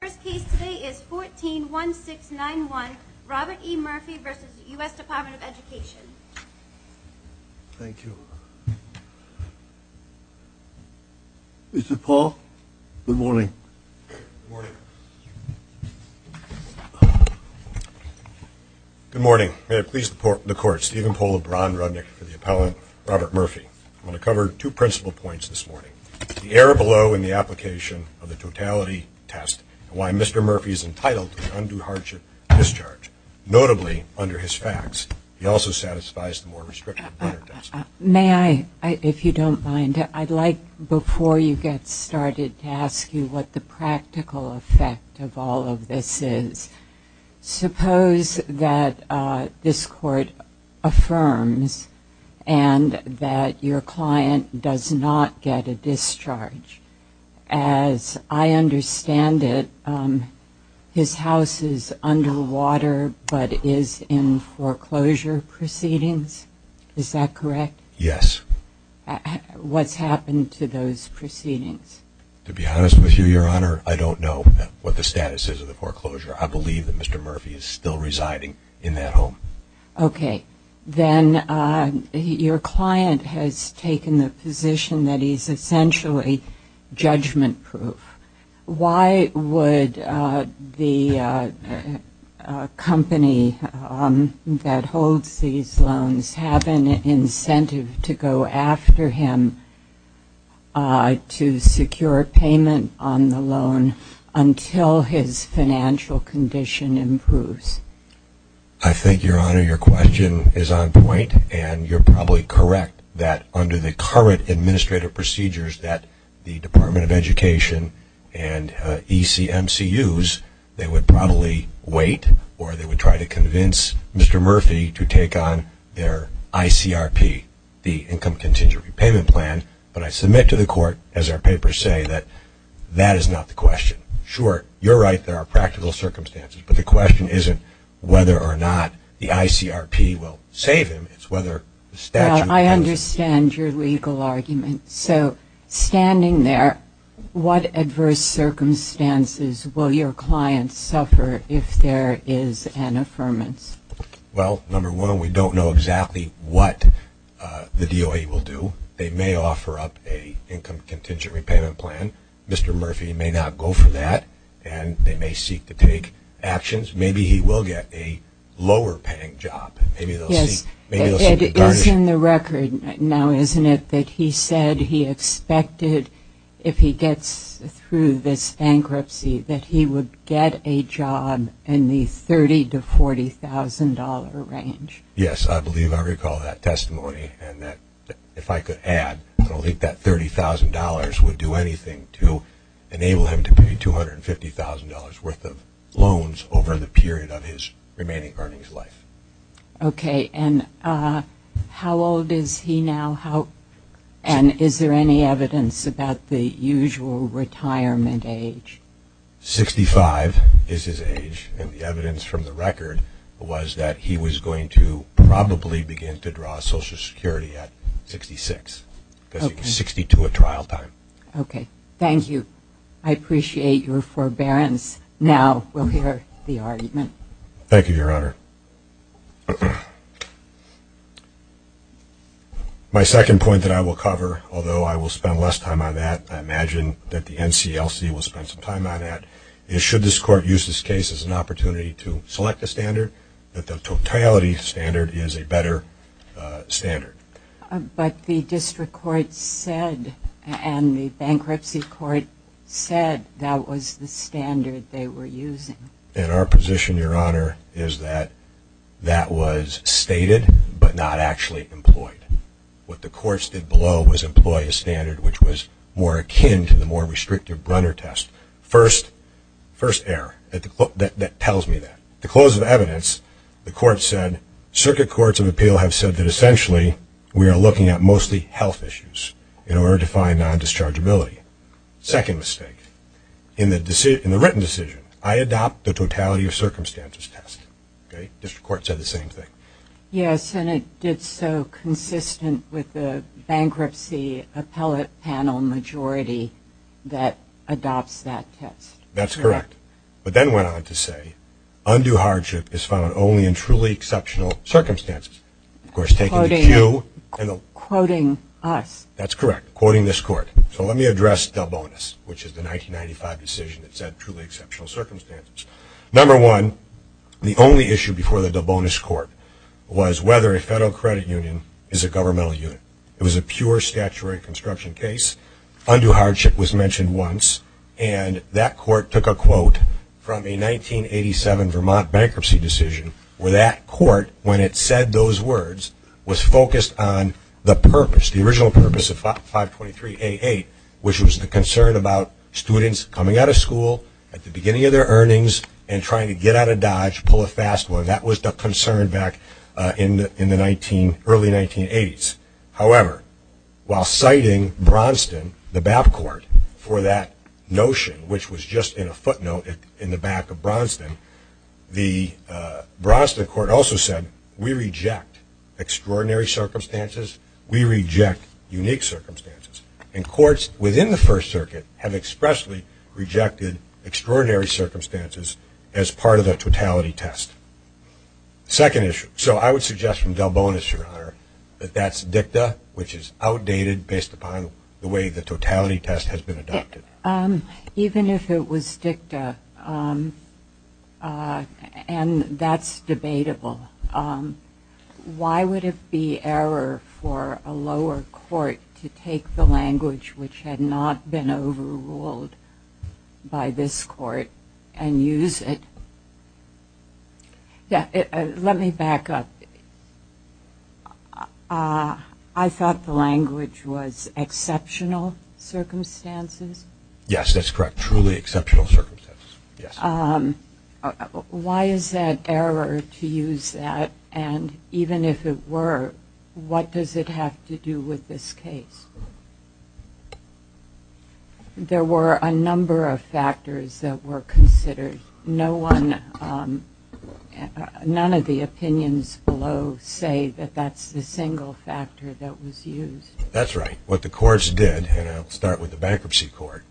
The first case today is 14-1691, Robert E. Murphy v. US Department of Education. Thank you. Mr. Paul, good morning. Good morning. Good morning. May it please the Court, Stephen Paul LeBron Rudnick for the appellant Robert Murphy. I'm going to cover two principal points this morning. The error below in the application of the totality test and why Mr. Murphy is entitled to an undue hardship discharge. Notably, under his facts, he also satisfies the more restrictive letter test. May I, if you don't mind, I'd like, before you get started, to ask you what the practical effect of all of this is. Suppose that this Court affirms and that your client does not get a discharge. As I understand it, his house is underwater but is in foreclosure proceedings. Is that correct? Yes. What's happened to those proceedings? To be honest with you, Your Honor, I don't know what the status is of the foreclosure. I believe that Mr. Murphy is still residing in that home. Okay. Then your client has taken the position that he's essentially judgment-proof. Why would the company that holds these loans have an incentive to go after him to secure payment on the loan until his financial condition improves? I think, Your Honor, your question is on point. And you're probably correct that under the current administrative procedures that the Department of Education and ECMCUs, they would probably wait or they would try to convince Mr. Murphy to take on their ICRP, the Income Contingent Repayment Plan. But I submit to the Court, as our papers say, that that is not the question. Sure, you're right, there are practical circumstances. But the question isn't whether or not the ICRP will save him. It's whether the statute will. I understand your legal argument. So standing there, what adverse circumstances will your client suffer if there is an affirmance? Well, number one, we don't know exactly what the DOE will do. They may offer up an Income Contingent Repayment Plan. Mr. Murphy may not go for that, and they may seek to take actions. Maybe he will get a lower-paying job. Yes, it is in the record now, isn't it, that he said he expected, if he gets through this bankruptcy, that he would get a job in the $30,000 to $40,000 range. Yes, I believe I recall that testimony, and if I could add, I don't think that $30,000 would do anything to enable him to pay $250,000 worth of loans over the period of his remaining earnings life. Okay. And how old is he now, and is there any evidence about the usual retirement age? 65 is his age, and the evidence from the record was that he was going to probably begin to draw Social Security at 66, because he was 62 at trial time. Okay. Thank you. I appreciate your forbearance. Now we'll hear the argument. Thank you, Your Honor. My second point that I will cover, although I will spend less time on that, I imagine that the NCLC will spend some time on that, is should this Court use this case as an opportunity to select a standard, that the totality standard is a better standard. But the district court said, and the bankruptcy court said, that was the standard they were using. And our position, Your Honor, is that that was stated but not actually employed. What the courts did below was employ a standard which was more akin to the more restrictive Brunner test. First error. That tells me that. The close of evidence, the court said, circuit courts of appeal have said that essentially we are looking at mostly health issues in order to find non-dischargeability. Second mistake. In the written decision, I adopt the totality of circumstances test. Okay. District court said the same thing. Yes, and it did so consistent with the bankruptcy appellate panel majority that adopts that test. That's correct. But then went on to say, undue hardship is found only in truly exceptional circumstances. Of course, taking the Q. Quoting us. That's correct. Quoting this Court. So let me address Delbonis, which is the 1995 decision that said truly exceptional circumstances. Number one, the only issue before the Delbonis court was whether a federal credit union is a governmental unit. It was a pure statutory construction case. Undue hardship was mentioned once, and that court took a quote from a 1987 Vermont bankruptcy decision where that court, when it said those words, was focused on the purpose, the original purpose of 523A8, which was the concern about students coming out of school at the beginning of their earnings and trying to get out of Dodge, pull a fast one. That was the concern back in the early 1980s. However, while citing Bronston, the BAP court, for that notion, which was just in a footnote in the back of Bronston, the Bronston court also said, we reject extraordinary circumstances. We reject unique circumstances. And courts within the First Circuit have expressly rejected extraordinary circumstances as part of the totality test. Second issue. So I would suggest from Delbonis, Your Honor, that that's dicta, which is outdated based upon the way the totality test has been adopted. Even if it was dicta and that's debatable, why would it be error for a lower court to take the language which had not been overruled by this court and use it? Let me back up. I thought the language was exceptional circumstances. Yes, that's correct. Truly exceptional circumstances. Why is that error to use that? And even if it were, what does it have to do with this case? There were a number of factors that were considered. None of the opinions below say that that's the single factor that was used. That's right. What the courts did, and I'll start with the bankruptcy court,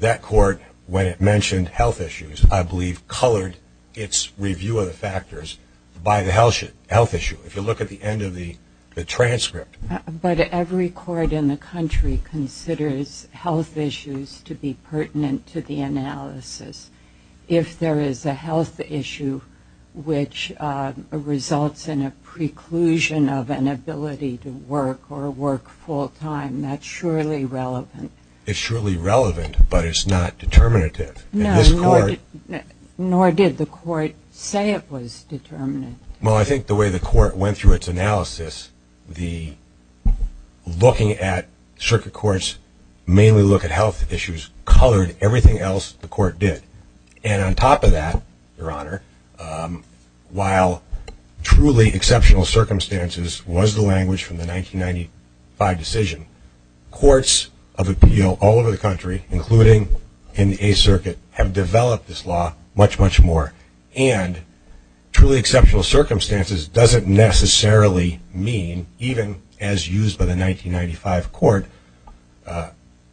that court when it mentioned health issues, I believe, colored its review of the factors by the health issue. If you look at the end of the transcript. But every court in the country considers health issues to be pertinent to the analysis. If there is a health issue which results in a preclusion of an ability to work or work full time, that's surely relevant. It's surely relevant, but it's not determinative. No, nor did the court say it was determinative. Well, I think the way the court went through its analysis, the looking at circuit courts mainly look at health issues colored everything else the court did. And on top of that, Your Honor, while truly exceptional circumstances was the language from the 1995 decision, courts of appeal all over the country, including in the Eighth Circuit, have developed this law much, much more. And truly exceptional circumstances doesn't necessarily mean, even as used by the 1995 court,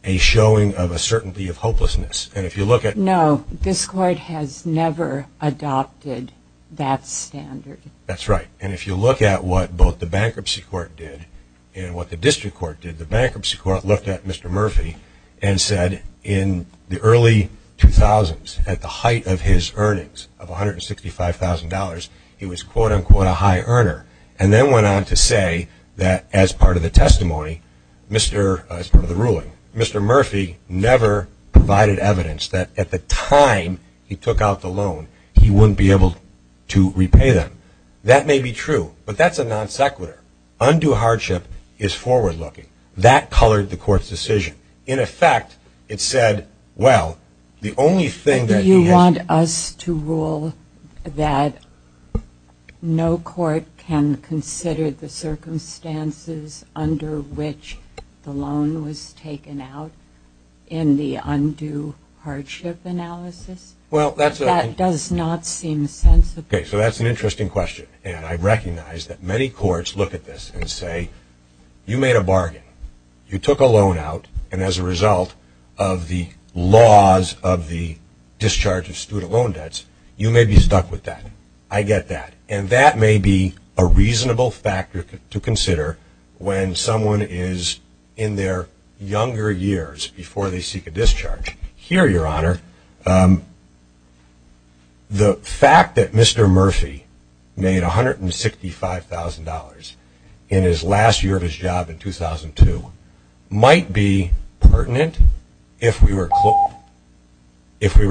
a showing of a certainty of hopelessness. And if you look at. No, this court has never adopted that standard. That's right. And if you look at what both the Bankruptcy Court did and what the District Court did, the Bankruptcy Court looked at Mr. Murphy and said in the early 2000s, at the height of his earnings of $165,000, he was quote, unquote, a high earner. And then went on to say that as part of the testimony, Mr. as part of the ruling, Mr. Murphy never provided evidence that at the time he took out the loan, he wouldn't be able to repay them. That may be true, but that's a non sequitur. Undue hardship is forward-looking. That colored the court's decision. In effect, it said, well, the only thing that he has. Do you want us to rule that no court can consider the circumstances under which the loan was taken out in the undue hardship analysis? Well, that's. That does not seem sensible. Okay, so that's an interesting question. And I recognize that many courts look at this and say, you made a bargain. You took a loan out, and as a result of the laws of the discharge of student loan debts, you may be stuck with that. I get that. And that may be a reasonable factor to consider when someone is in their younger years before they seek a discharge. Here, Your Honor, the fact that Mr. Murphy made $165,000 in his last year of his job in 2002 might be pertinent if we were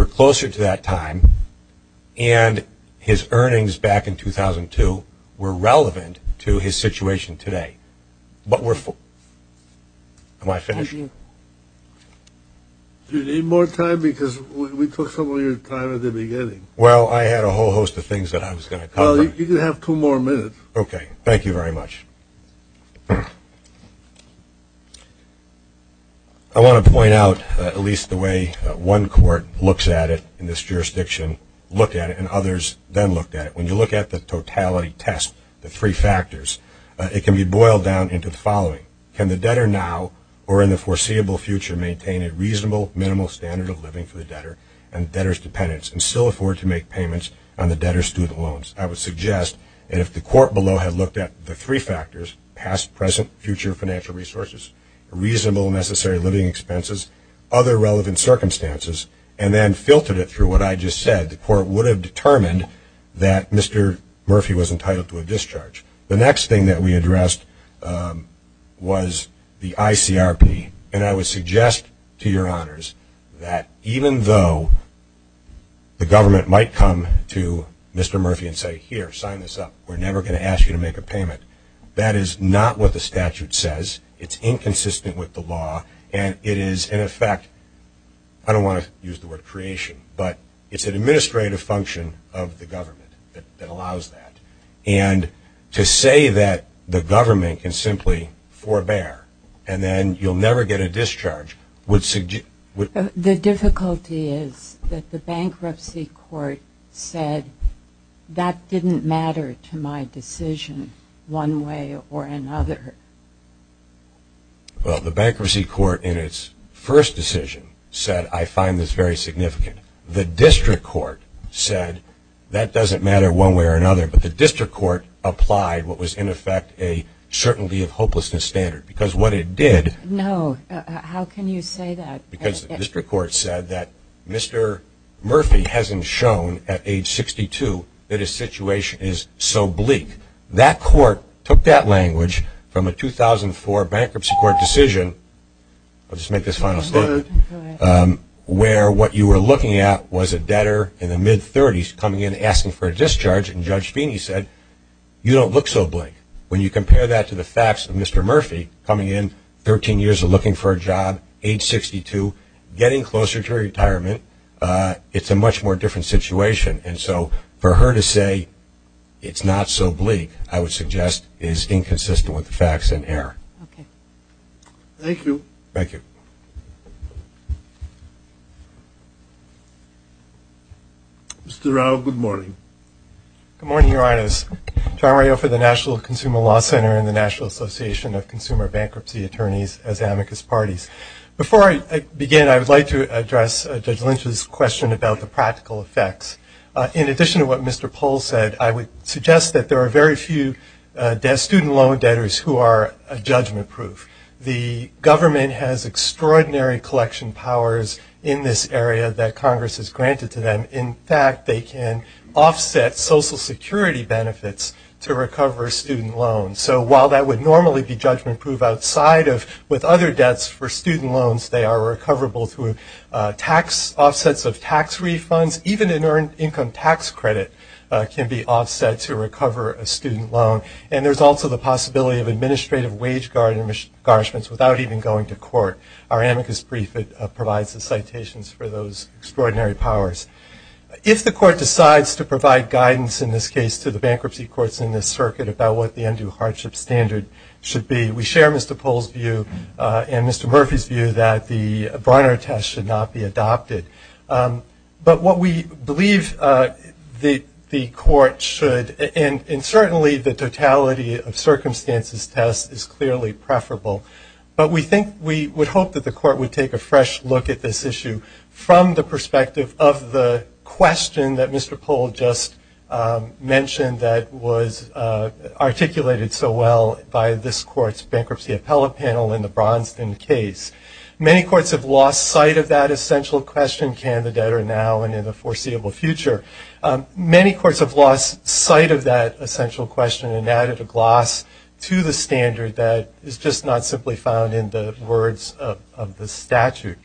closer to that time and his earnings back in 2002 were relevant to his situation today. Am I finished? Do you need more time? Because we took some of your time at the beginning. Well, I had a whole host of things that I was going to cover. Well, you can have two more minutes. Okay. Thank you very much. I want to point out at least the way one court looks at it in this jurisdiction, looked at it, and others then looked at it. When you look at the totality test, the three factors, it can be boiled down into the following. Can the debtor now or in the foreseeable future maintain a reasonable, minimal standard of living for the debtor and debtor's dependents and still afford to make payments on the debtor's student loans? I would suggest that if the court below had looked at the three factors, past, present, future financial resources, reasonable and necessary living expenses, other relevant circumstances, and then filtered it through what I just said, the court would have determined that Mr. Murphy was entitled to a discharge. The next thing that we addressed was the ICRP, and I would suggest to your honors that even though the government might come to Mr. Murphy and say, here, sign this up, we're never going to ask you to make a payment, that is not what the statute says. It's inconsistent with the law, and it is, in effect, I don't want to use the word creation, but it's an administrative function of the government that allows that. And to say that the government can simply forbear and then you'll never get a discharge would suggest – The difficulty is that the bankruptcy court said that didn't matter to my decision one way or another. Well, the bankruptcy court in its first decision said, I find this very significant. The district court said that doesn't matter one way or another, but the district court applied what was, in effect, a certainty of hopelessness standard, because what it did – No, how can you say that? Because the district court said that Mr. Murphy hasn't shown at age 62 that his situation is so bleak. That court took that language from a 2004 bankruptcy court decision – I'll just make this final statement – where what you were looking at was a debtor in the mid-30s coming in asking for a discharge, and Judge Feeney said, you don't look so bleak. When you compare that to the facts of Mr. Murphy coming in 13 years of looking for a job, age 62, getting closer to retirement, it's a much more different situation. And so for her to say it's not so bleak, I would suggest is inconsistent with the facts in error. Okay. Thank you. Thank you. Mr. Rao, good morning. Good morning, Your Honors. John Rao for the National Consumer Law Center and the National Association of Consumer Bankruptcy Attorneys as Amicus Parties. Before I begin, I would like to address Judge Lynch's question about the practical effects. In addition to what Mr. Pohl said, I would suggest that there are very few student loan debtors who are judgment-proof. The government has extraordinary collection powers in this area that Congress has granted to them. In fact, they can offset Social Security benefits to recover student loans. So while that would normally be judgment-proof outside of with other debts for student loans, they are recoverable through offsets of tax refunds. Even an earned income tax credit can be offset to recover a student loan. And there's also the possibility of administrative wage garnishments without even going to court. Our Amicus brief provides the citations for those extraordinary powers. If the court decides to provide guidance in this case to the bankruptcy courts in this circuit about what the undue hardship standard should be, we share Mr. Pohl's view and Mr. Murphy's view that the Barnard test should not be adopted. But what we believe the court should, and certainly the totality of circumstances test is clearly preferable, but we think we would hope that the court would take a fresh look at this issue from the perspective of the question that Mr. Pohl just mentioned that was articulated so well by this court's bankruptcy appellate panel in the Braunston case. Many courts have lost sight of that essential question, can the debtor now and in the foreseeable future. Many courts have lost sight of that essential question and added a gloss to the standard that is just not simply found in the words of the statute.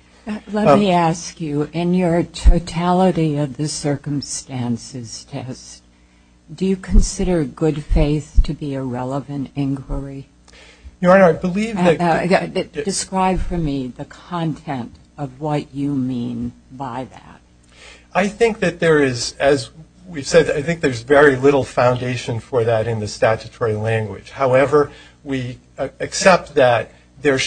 Let me ask you, in your totality of the circumstances test, do you consider good faith to be a relevant inquiry? Your Honor, I believe that... Describe for me the content of what you mean by that. I think that there is, as we've said, I think there's very little foundation for that in the statutory language. However, we accept that there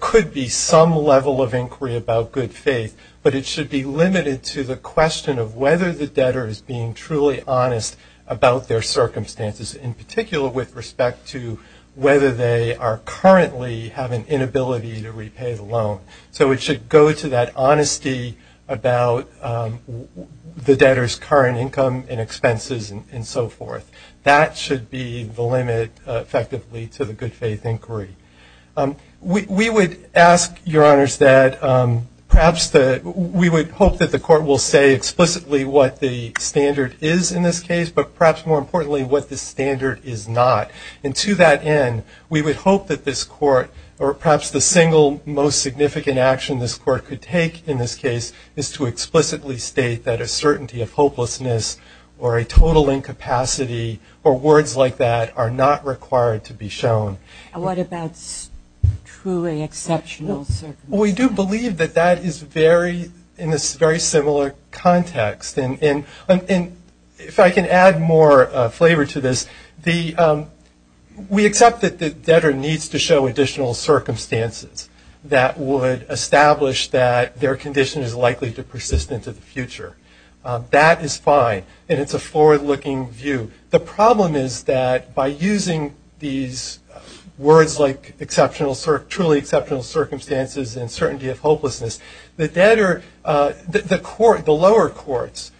could be some level of inquiry about good faith, but it should be limited to the question of whether the debtor is being truly honest about their circumstances, in particular with respect to whether they currently have an inability to repay the loan. So it should go to that honesty about the debtor's current income and expenses and so forth. That should be the limit effectively to the good faith inquiry. We would ask, Your Honors, that perhaps we would hope that the court will say explicitly what the standard is in this case, but perhaps more importantly what the standard is not. And to that end, we would hope that this court, or perhaps the single most significant action this court could take in this case, is to explicitly state that a certainty of hopelessness or a total incapacity or words like that are not required to be shown. And what about truly exceptional circumstances? We do believe that that is very, in a very similar context. And if I can add more flavor to this, we accept that the debtor needs to show additional circumstances that would establish that their condition is likely to persist into the future. That is fine, and it's a forward-looking view. The problem is that by using these words like truly exceptional circumstances and certainty of hopelessness, the lower courts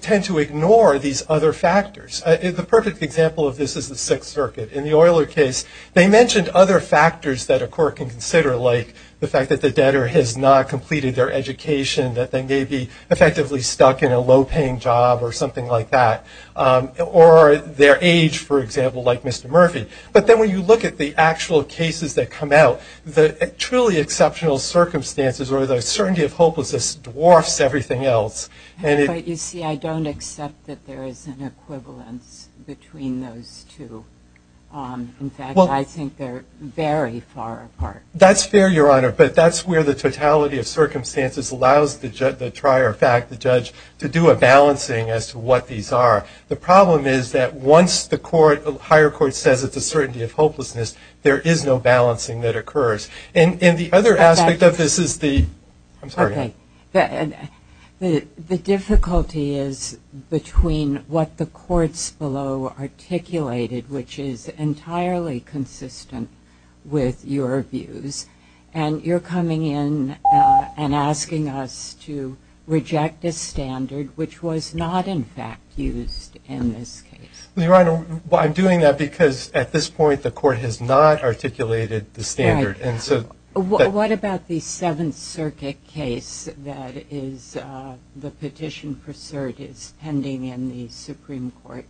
tend to ignore these other factors. The perfect example of this is the Sixth Circuit. In the Euler case, they mentioned other factors that a court can consider, like the fact that the debtor has not completed their education, that they may be effectively stuck in a low-paying job or something like that, or their age, for example, like Mr. Murphy. But then when you look at the actual cases that come out, the truly exceptional circumstances or the certainty of hopelessness dwarfs everything else. But you see, I don't accept that there is an equivalence between those two. In fact, I think they're very far apart. That's fair, Your Honor, but that's where the totality of circumstances allows the trier fact, the judge, to do a balancing as to what these are. The problem is that once the higher court says it's a certainty of hopelessness, there is no balancing that occurs. The difficulty is between what the courts below articulated, which is entirely consistent with your views, and you're coming in and asking us to reject a standard which was not, in fact, used in this case. Your Honor, I'm doing that because at this point the court has not articulated the standard. What about the Seventh Circuit case that the petition for cert is pending in the Supreme Court?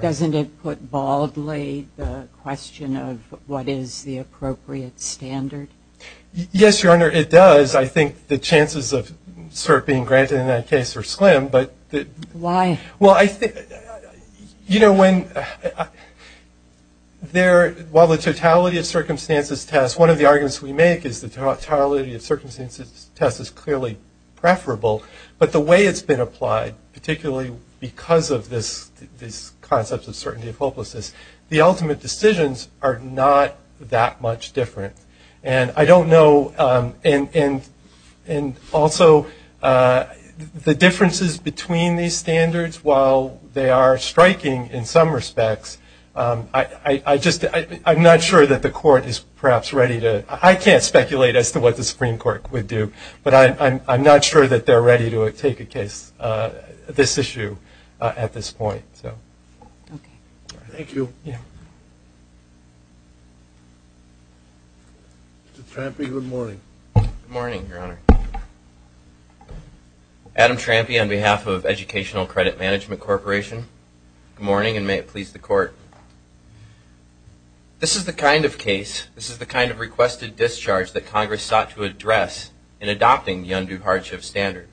Doesn't it put baldly the question of what is the appropriate standard? Yes, Your Honor, it does. I think the chances of cert being granted in that case are slim. Why? While the totality of circumstances test, one of the arguments we make is the totality of circumstances test is clearly preferable, but the way it's been applied, particularly because of this concept of certainty of hopelessness, the ultimate decisions are not that much different. I don't know, and also the differences between these standards, while they are striking in some respects, I'm not sure that the court is perhaps ready to, I can't speculate as to what the Supreme Court would do, but I'm not sure that they're ready to take a case, this issue, at this point. Thank you. Mr. Trampi, good morning. Good morning, Your Honor. Adam Trampi on behalf of Educational Credit Management Corporation. Good morning, and may it please the Court. This is the kind of case, this is the kind of requested discharge that Congress sought to address in adopting the undue hardship standard.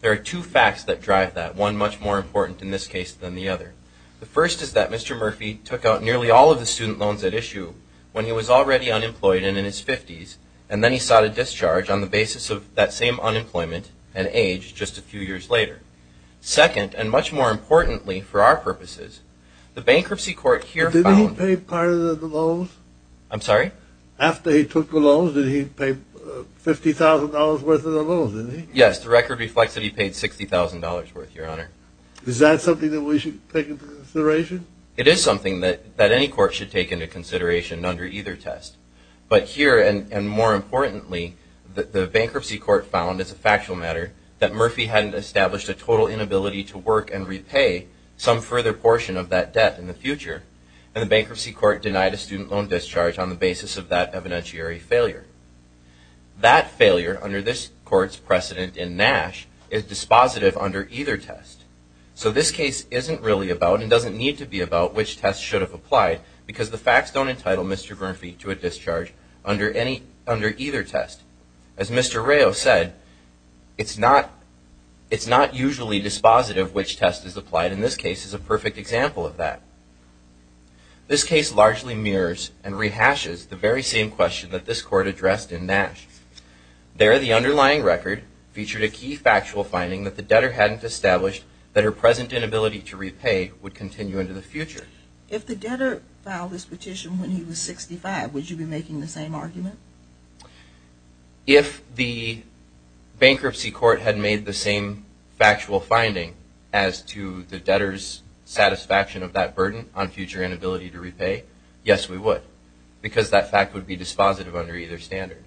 There are two facts that drive that, one much more important in this case than the other. The first is that Mr. Murphy took out nearly all of the student loans at issue when he was already unemployed and in his 50s, and then he sought a discharge on the basis of that same unemployment and age just a few years later. Second, and much more importantly for our purposes, the bankruptcy court here found... Didn't he pay part of the loans? I'm sorry? After he took the loans, did he pay $50,000 worth of the loans? Yes, the record reflects that he paid $60,000 worth, Your Honor. Is that something that we should take into consideration? It is something that any court should take into consideration under either test. But here, and more importantly, the bankruptcy court found, as a factual matter, that Murphy hadn't established a total inability to work and repay some further portion of that debt in the future, and the bankruptcy court denied a student loan discharge on the basis of that evidentiary failure. That failure, under this court's precedent in Nash, is dispositive under either test. So this case isn't really about, and doesn't need to be about, which test should have applied, because the facts don't entitle Mr. Murphy to a discharge under either test. As Mr. Rayo said, it's not usually dispositive which test is applied, and this case is a perfect example of that. This case largely mirrors and rehashes the very same question that this court addressed in Nash. There, the underlying record featured a key factual finding that the debtor hadn't established that her present inability to repay would continue into the future. If the debtor filed this petition when he was 65, would you be making the same argument? If the bankruptcy court had made the same factual finding as to the debtor's satisfaction of that burden on future inability to repay, yes, we would, because that fact would be dispositive under either standard.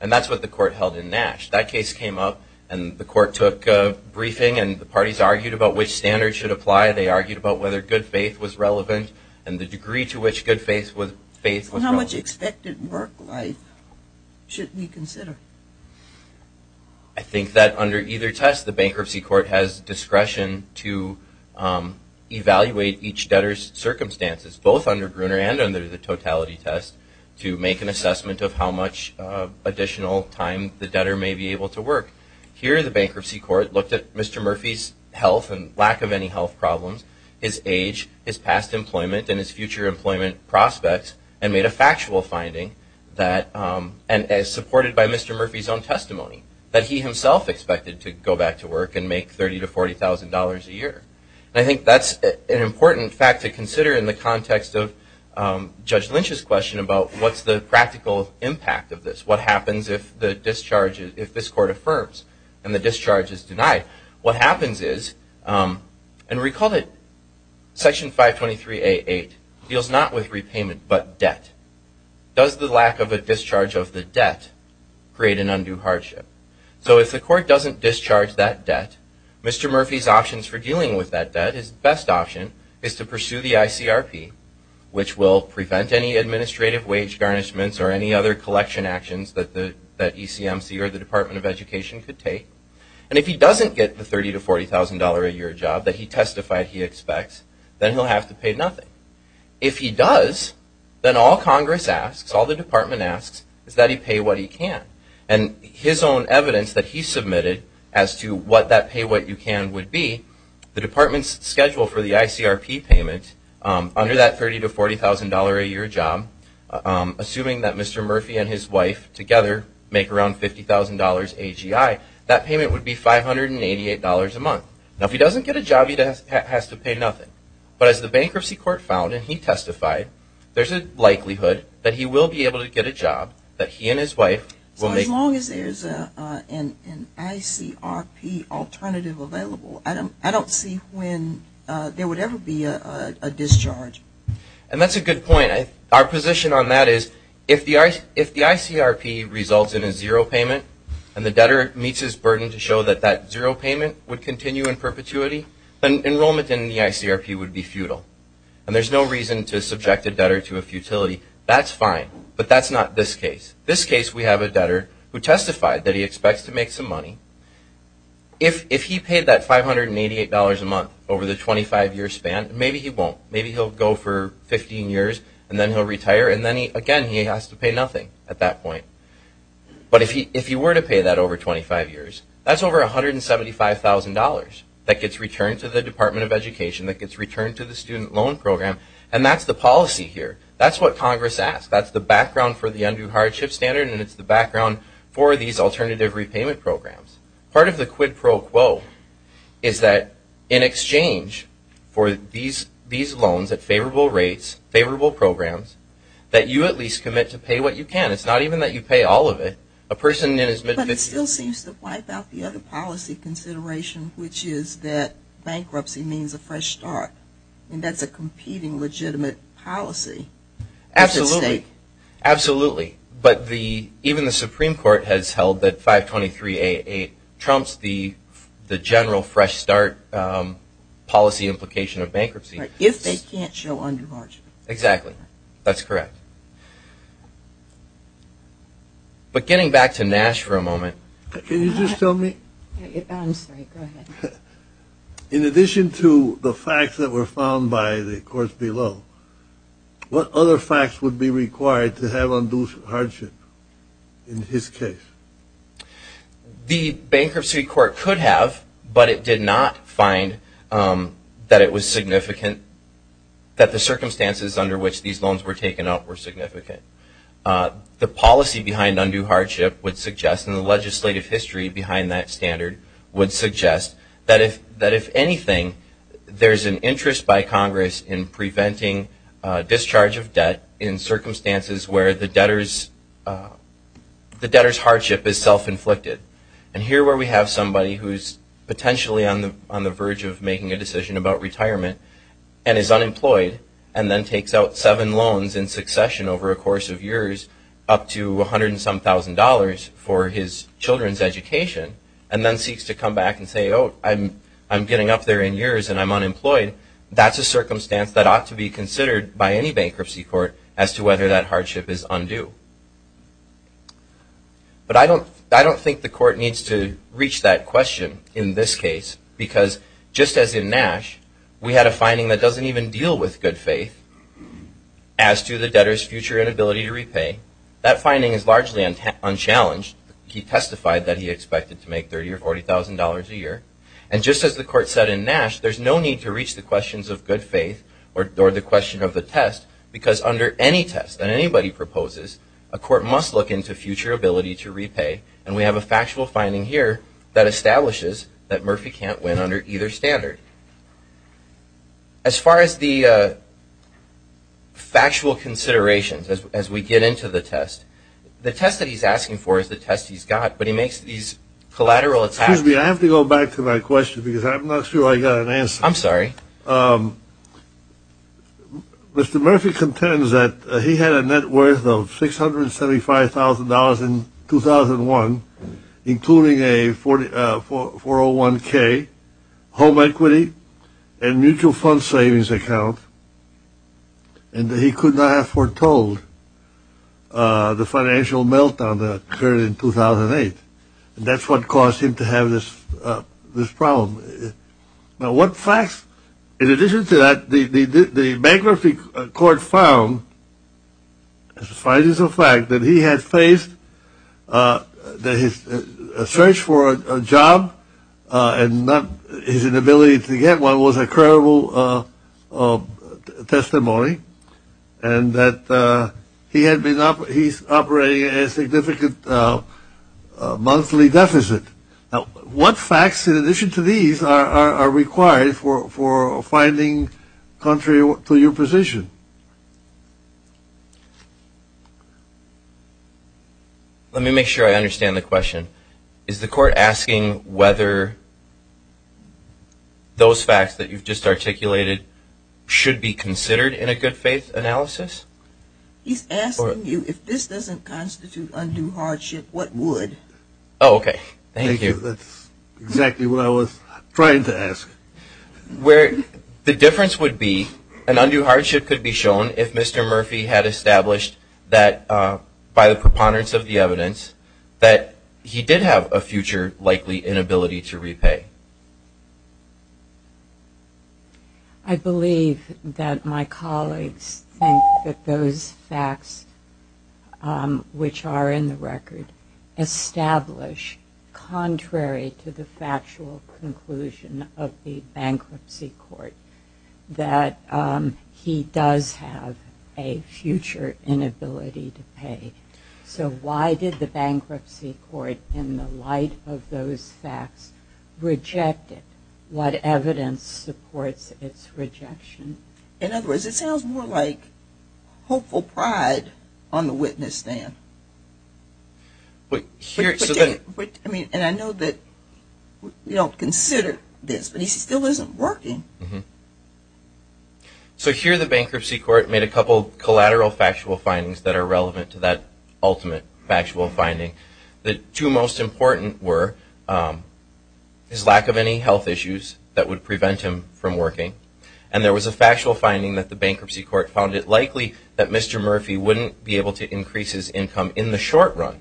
And that's what the court held in Nash. That case came up, and the court took a briefing, and the parties argued about which standard should apply. They argued about whether good faith was relevant and the degree to which good faith was relevant. How much expected work life should we consider? I think that under either test, the bankruptcy court has discretion to evaluate each debtor's circumstances, both under Gruner and under the totality test, to make an assessment of how much additional time the debtor may be able to work. Here, the bankruptcy court looked at Mr. Murphy's health and lack of any health problems, his age, his past employment, and his future employment prospects, and made a factual finding that, as supported by Mr. Murphy's own testimony, that he himself expected to go back to work and make $30,000 to $40,000 a year. And I think that's an important fact to consider in the context of Judge Lynch's question about what's the practical impact of this? What happens if this court affirms and the discharge is denied? What happens is, and recall that Section 523A8 deals not with repayment but debt. Does the lack of a discharge of the debt create an undue hardship? So if the court doesn't discharge that debt, Mr. Murphy's options for dealing with that debt, his best option is to pursue the ICRP, which will prevent any administrative wage garnishments or any other collection actions that the ECMC or the Department of Education could take. And if he doesn't get the $30,000 to $40,000 a year job that he testified he expects, then he'll have to pay nothing. If he does, then all Congress asks, all the Department asks, is that he pay what he can. And his own evidence that he submitted as to what that pay what you can would be, the Department's schedule for the ICRP payment under that $30,000 to $40,000 a year job, assuming that Mr. Murphy and his wife together make around $50,000 AGI, that payment would be $588 a month. Now if he doesn't get a job, he has to pay nothing. But as the bankruptcy court found and he testified, there's a likelihood that he will be able to get a job, that he and his wife will make... So as long as there's an ICRP alternative available, I don't see when there would ever be a discharge. And that's a good point. Our position on that is if the ICRP results in a zero payment and the debtor meets his burden to show that that zero payment would continue in perpetuity, then enrollment in the ICRP would be futile. And there's no reason to subject a debtor to a futility. That's fine. But that's not this case. This case we have a debtor who testified that he expects to make some money. If he paid that $588 a month over the 25-year span, maybe he won't. Maybe he'll go for 15 years and then he'll retire. And then, again, he has to pay nothing at that point. But if he were to pay that over 25 years, that's over $175,000 that gets returned to the Department of Education, that gets returned to the student loan program, and that's the policy here. That's what Congress asks. That's the background for the undue hardship standard, and it's the background for these alternative repayment programs. Part of the quid pro quo is that in exchange for these loans at favorable rates, favorable programs, that you at least commit to pay what you can. It's not even that you pay all of it. But it still seems to wipe out the other policy consideration, which is that bankruptcy means a fresh start, and that's a competing legitimate policy. Absolutely. Absolutely. But even the Supreme Court has held that 523-88 trumps the general fresh start policy implication of bankruptcy. If they can't show undue hardship. Exactly. That's correct. But getting back to Nash for a moment. Can you just tell me? I'm sorry. Go ahead. In addition to the facts that were found by the courts below, what other facts would be required to have undue hardship in his case? The bankruptcy court could have, but it did not find that it was significant, that the circumstances under which these loans were taken up were significant. The policy behind undue hardship would suggest, and the legislative history behind that standard would suggest, that if anything, there's an interest by Congress in preventing discharge of debt in circumstances where the debtor's hardship is self-inflicted. And here where we have somebody who's potentially on the verge of making a decision about retirement and is unemployed and then takes out seven loans in succession over a course of years, up to a hundred and some thousand dollars for his children's education, and then seeks to come back and say, oh, I'm getting up there in years and I'm unemployed, that's a circumstance that ought to be considered by any bankruptcy court as to whether that hardship is undue. But I don't think the court needs to reach that question in this case, because just as in Nash, we had a finding that doesn't even deal with good faith, as to the debtor's future inability to repay, that finding is largely unchallenged. He testified that he expected to make $30,000 or $40,000 a year. And just as the court said in Nash, there's no need to reach the questions of good faith or the question of the test, because under any test that anybody proposes, a court must look into future ability to repay. And we have a factual finding here that establishes that Murphy can't win under either standard. As far as the factual considerations as we get into the test, the test that he's asking for is the test he's got, but he makes these collateral attacks. Excuse me, I have to go back to my question, because I'm not sure I got an answer. I'm sorry. Mr. Murphy contends that he had a net worth of $675,000 in 2001, including a 401k, home equity, and mutual fund savings account, and that he could not have foretold the financial meltdown that occurred in 2008. And that's what caused him to have this problem. Now, what facts, in addition to that, the bankruptcy court found, as far as the fact that he had faced a search for a job and his inability to get one was a credible testimony, and that he's operating a significant monthly deficit. What facts, in addition to these, are required for finding contrary to your position? Let me make sure I understand the question. Is the court asking whether those facts that you've just articulated should be considered in a good faith analysis? He's asking you, if this doesn't constitute undue hardship, what would? Oh, okay. Thank you. That's exactly what I was trying to ask. The difference would be an undue hardship could be shown if Mr. Murphy had established that, by the preponderance of the evidence, that he did have a future likely inability to repay. I believe that my colleagues think that those facts, which are in the record, establish, contrary to the factual conclusion of the bankruptcy court, that he does have a future inability to pay. So why did the bankruptcy court, in the light of those facts, reject it? What evidence supports its rejection? In other words, it sounds more like hopeful pride on the witness stand. And I know that we don't consider this, but he still isn't working. So here the bankruptcy court made a couple of collateral factual findings that are relevant to that ultimate factual finding. The two most important were his lack of any health issues that would prevent him from working, and there was a factual finding that the bankruptcy court found it likely that Mr. Murphy wouldn't be able to increase his income in the short run.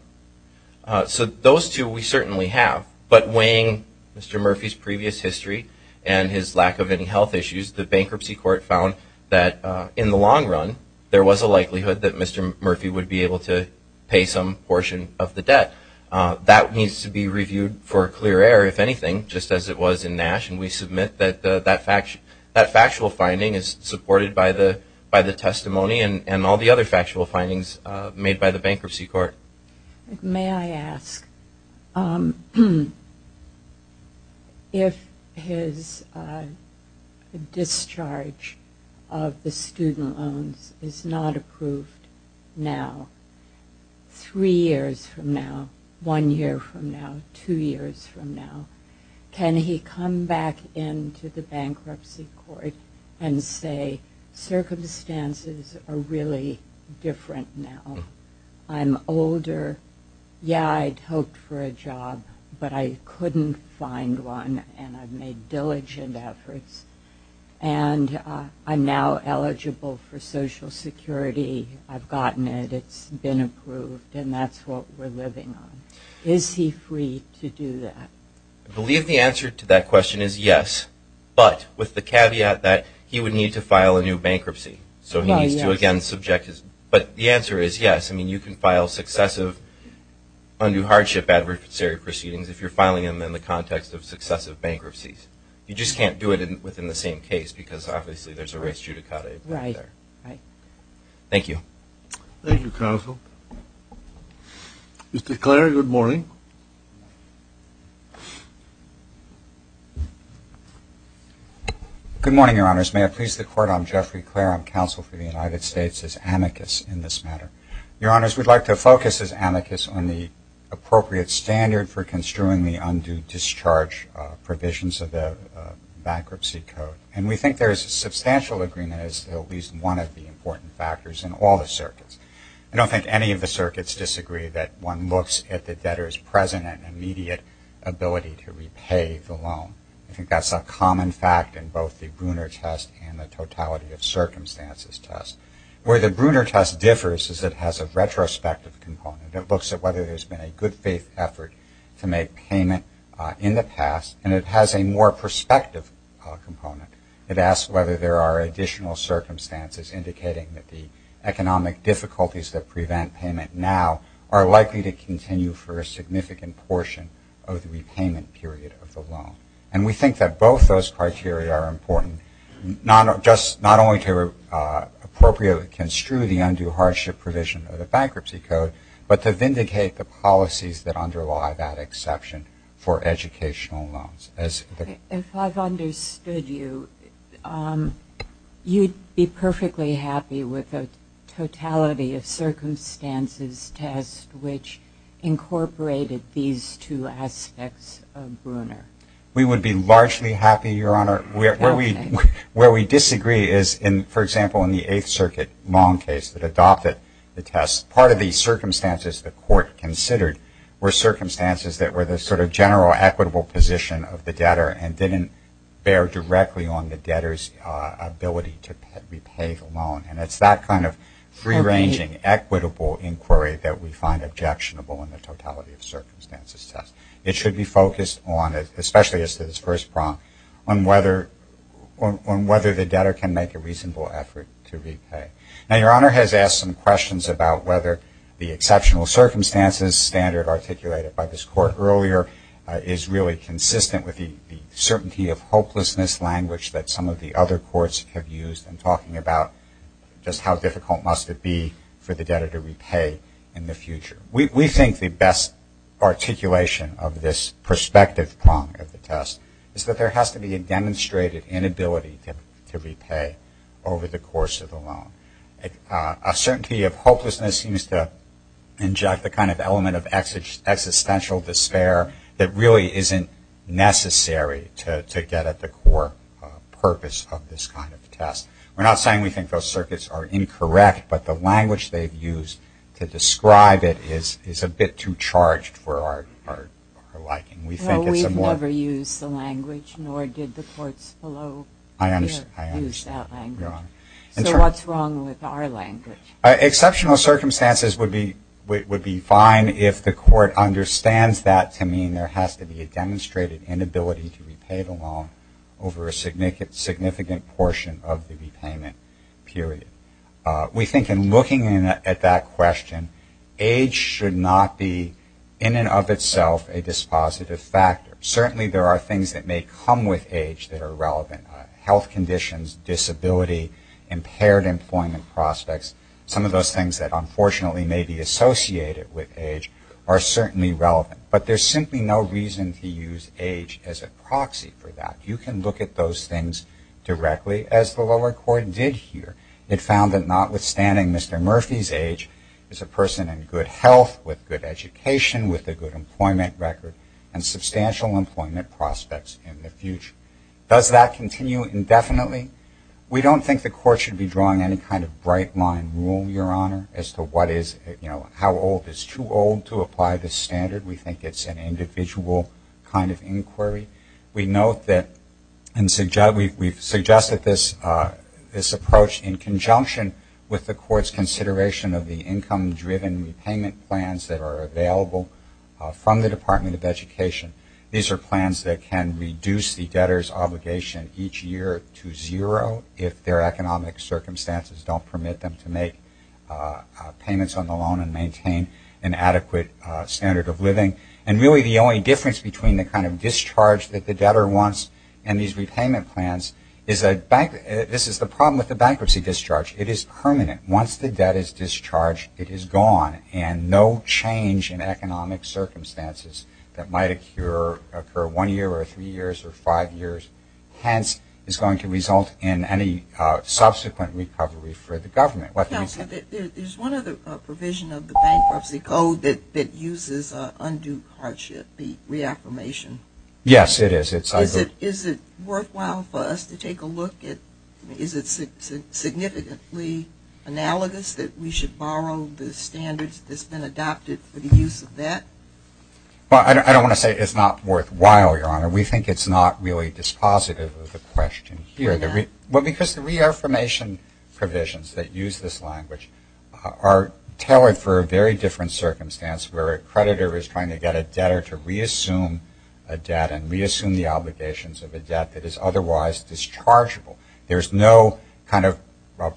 So those two we certainly have, but weighing Mr. Murphy's previous history and his lack of any health issues, the bankruptcy court found that, in the long run, there was a likelihood that Mr. Murphy would be able to pay some portion of the debt. That needs to be reviewed for clear air, if anything, just as it was in Nash, and we submit that that factual finding is supported by the testimony and all the other factual findings made by the bankruptcy court. May I ask, if his discharge of the student loans is not approved now, three years from now, one year from now, two years from now, can he come back into the bankruptcy court and say, Circumstances are really different now. I'm older. Yeah, I'd hoped for a job, but I couldn't find one, and I've made diligent efforts, and I'm now eligible for Social Security. I've gotten it. It's been approved, and that's what we're living on. Is he free to do that? I believe the answer to that question is yes, but with the caveat that he would need to file a new bankruptcy, so he needs to, again, subject his. But the answer is yes. I mean, you can file successive undue hardship adversary proceedings if you're filing them in the context of successive bankruptcies. You just can't do it within the same case because, obviously, there's a race judicata involved there. Right, right. Thank you. Thank you, counsel. Mr. Clare, good morning. Good morning, Your Honors. May it please the Court, I'm Jeffrey Clare. I'm counsel for the United States as amicus in this matter. Your Honors, we'd like to focus as amicus on the appropriate standard for construing the undue discharge provisions of the bankruptcy code, and we think there is a substantial agreement as to at least one of the important factors in all the circuits. I don't think any of the circuits disagree that one looks at the debtor's present and immediate ability to repay the loan. I think that's a common fact in both the Bruner test and the totality of circumstances test. Where the Bruner test differs is it has a retrospective component. It looks at whether there's been a good faith effort to make payment in the past, and it has a more prospective component. It asks whether there are additional circumstances indicating that the economic difficulties that prevent payment now are likely to continue for a significant portion of the repayment period of the loan. And we think that both those criteria are important, not only to appropriately construe the undue hardship provision of the bankruptcy code, but to vindicate the policies that underlie that exception for educational loans. If I've understood you, you'd be perfectly happy with the totality of circumstances test, which incorporated these two aspects of Bruner. We would be largely happy, Your Honor. Where we disagree is, for example, in the Eighth Circuit loan case that adopted the test, part of the circumstances the court considered were circumstances that were the sort of overall equitable position of the debtor and didn't bear directly on the debtor's ability to repay the loan. And it's that kind of free-ranging, equitable inquiry that we find objectionable in the totality of circumstances test. It should be focused on, especially as to this first prompt, on whether the debtor can make a reasonable effort to repay. Now, Your Honor has asked some questions about whether the exceptional circumstances standard articulated by this court earlier is really consistent with the certainty of hopelessness language that some of the other courts have used in talking about just how difficult must it be for the debtor to repay in the future. We think the best articulation of this perspective prompt of the test is that there has to be a demonstrated inability to repay over the course of the loan. A certainty of hopelessness seems to inject the kind of element of existential despair that really isn't necessary to get at the core purpose of this kind of test. We're not saying we think those circuits are incorrect, but the language they've used to describe it is a bit too charged for our liking. We think it's a more No, we've never used the language, nor did the courts below us use that language. So what's wrong with our language? Exceptional circumstances would be fine if the court understands that to mean there has to be a demonstrated inability to repay the loan over a significant portion of the repayment period. We think in looking at that question, age should not be in and of itself a dispositive factor. Certainly there are things that may come with age that are relevant. Health conditions, disability, impaired employment prospects, some of those things that unfortunately may be associated with age are certainly relevant. But there's simply no reason to use age as a proxy for that. You can look at those things directly, as the lower court did here. It found that notwithstanding Mr. Murphy's age is a person in good health, with good education, with a good employment record, and substantial employment prospects in the future. Does that continue indefinitely? We don't think the court should be drawing any kind of bright-line rule, Your Honor, as to what is, you know, how old is too old to apply this standard. We think it's an individual kind of inquiry. We note that we've suggested this approach in conjunction with the court's consideration of the income-driven repayment plans that are available from the Department of Education. These are plans that can reduce the debtor's obligation each year to zero if their economic circumstances don't permit them to make payments on the loan and maintain an adequate standard of living. And really the only difference between the kind of discharge that the debtor wants and these repayment plans is that this is the problem with the bankruptcy discharge. It is permanent. Once the debt is discharged, it is gone, and no change in economic circumstances that might occur one year or three years or five years, hence is going to result in any subsequent recovery for the government. Counsel, there's one other provision of the bankruptcy code that uses undue hardship, the reaffirmation. Yes, it is. Is it worthwhile for us to take a look at, is it significantly analogous that we should borrow the standards that's been adopted for the use of that? Well, I don't want to say it's not worthwhile, Your Honor. We think it's not really dispositive of the question here. Well, because the reaffirmation provisions that use this language are tailored for a very different circumstance where a creditor is trying to get a debtor to reassume a debt and reassume the obligations of a debt that is otherwise dischargeable. There's no kind of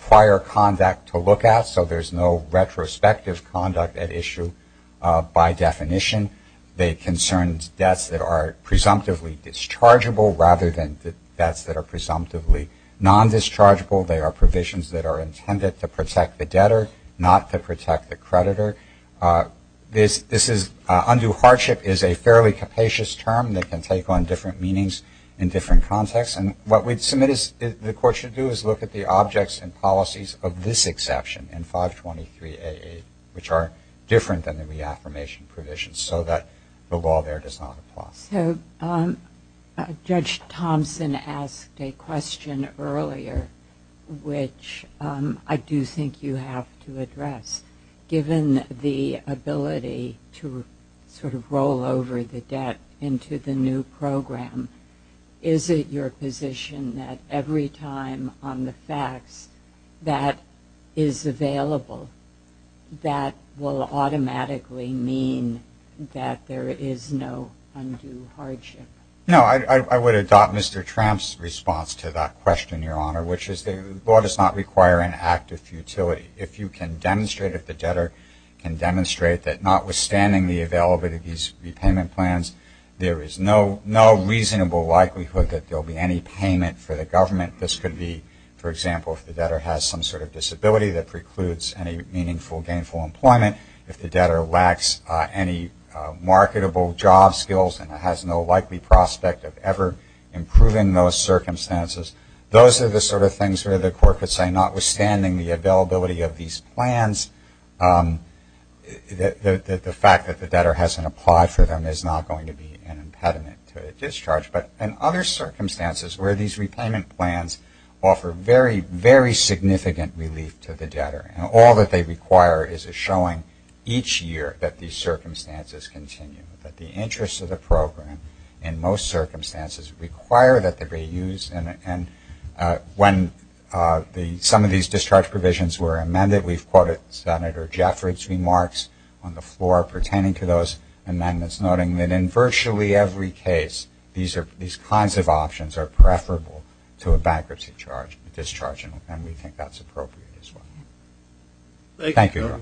prior conduct to look at, so there's no retrospective conduct at issue by definition. They concern debts that are presumptively dischargeable rather than debts that are presumptively non-dischargeable. They are provisions that are intended to protect the debtor, not to protect the creditor. Undue hardship is a fairly capacious term that can take on different meanings in different contexts, and what we'd submit the Court should do is look at the objects and policies of this exception in 523AA, which are different than the reaffirmation provisions so that the law there does not apply. So Judge Thompson asked a question earlier, which I do think you have to address. Given the ability to sort of roll over the debt into the new program, is it your position that every time on the facts that is available, that will automatically mean that there is no undue hardship? No, I would adopt Mr. Tramp's response to that question, Your Honor, which is the law does not require an act of futility. If you can demonstrate, if the debtor can demonstrate, that notwithstanding the availability of these repayment plans, there is no reasonable likelihood that there will be any payment for the government. This could be, for example, if the debtor has some sort of disability that precludes any meaningful gainful employment, if the debtor lacks any marketable job skills and has no likely prospect of ever improving those circumstances, those are the sort of things where the court could say, notwithstanding the availability of these plans, the fact that the debtor hasn't applied for them is not going to be an impediment to discharge. But in other circumstances where these repayment plans offer very, very significant relief to the debtor, and all that they require is a showing each year that these circumstances continue, that the interests of the program in most circumstances require that they be used and when some of these discharge provisions were amended, we've quoted Senator Jeffords' remarks on the floor pertaining to those amendments, noting that in virtually every case, these kinds of options are preferable to a bankruptcy discharge, and we think that's appropriate as well. Thank you.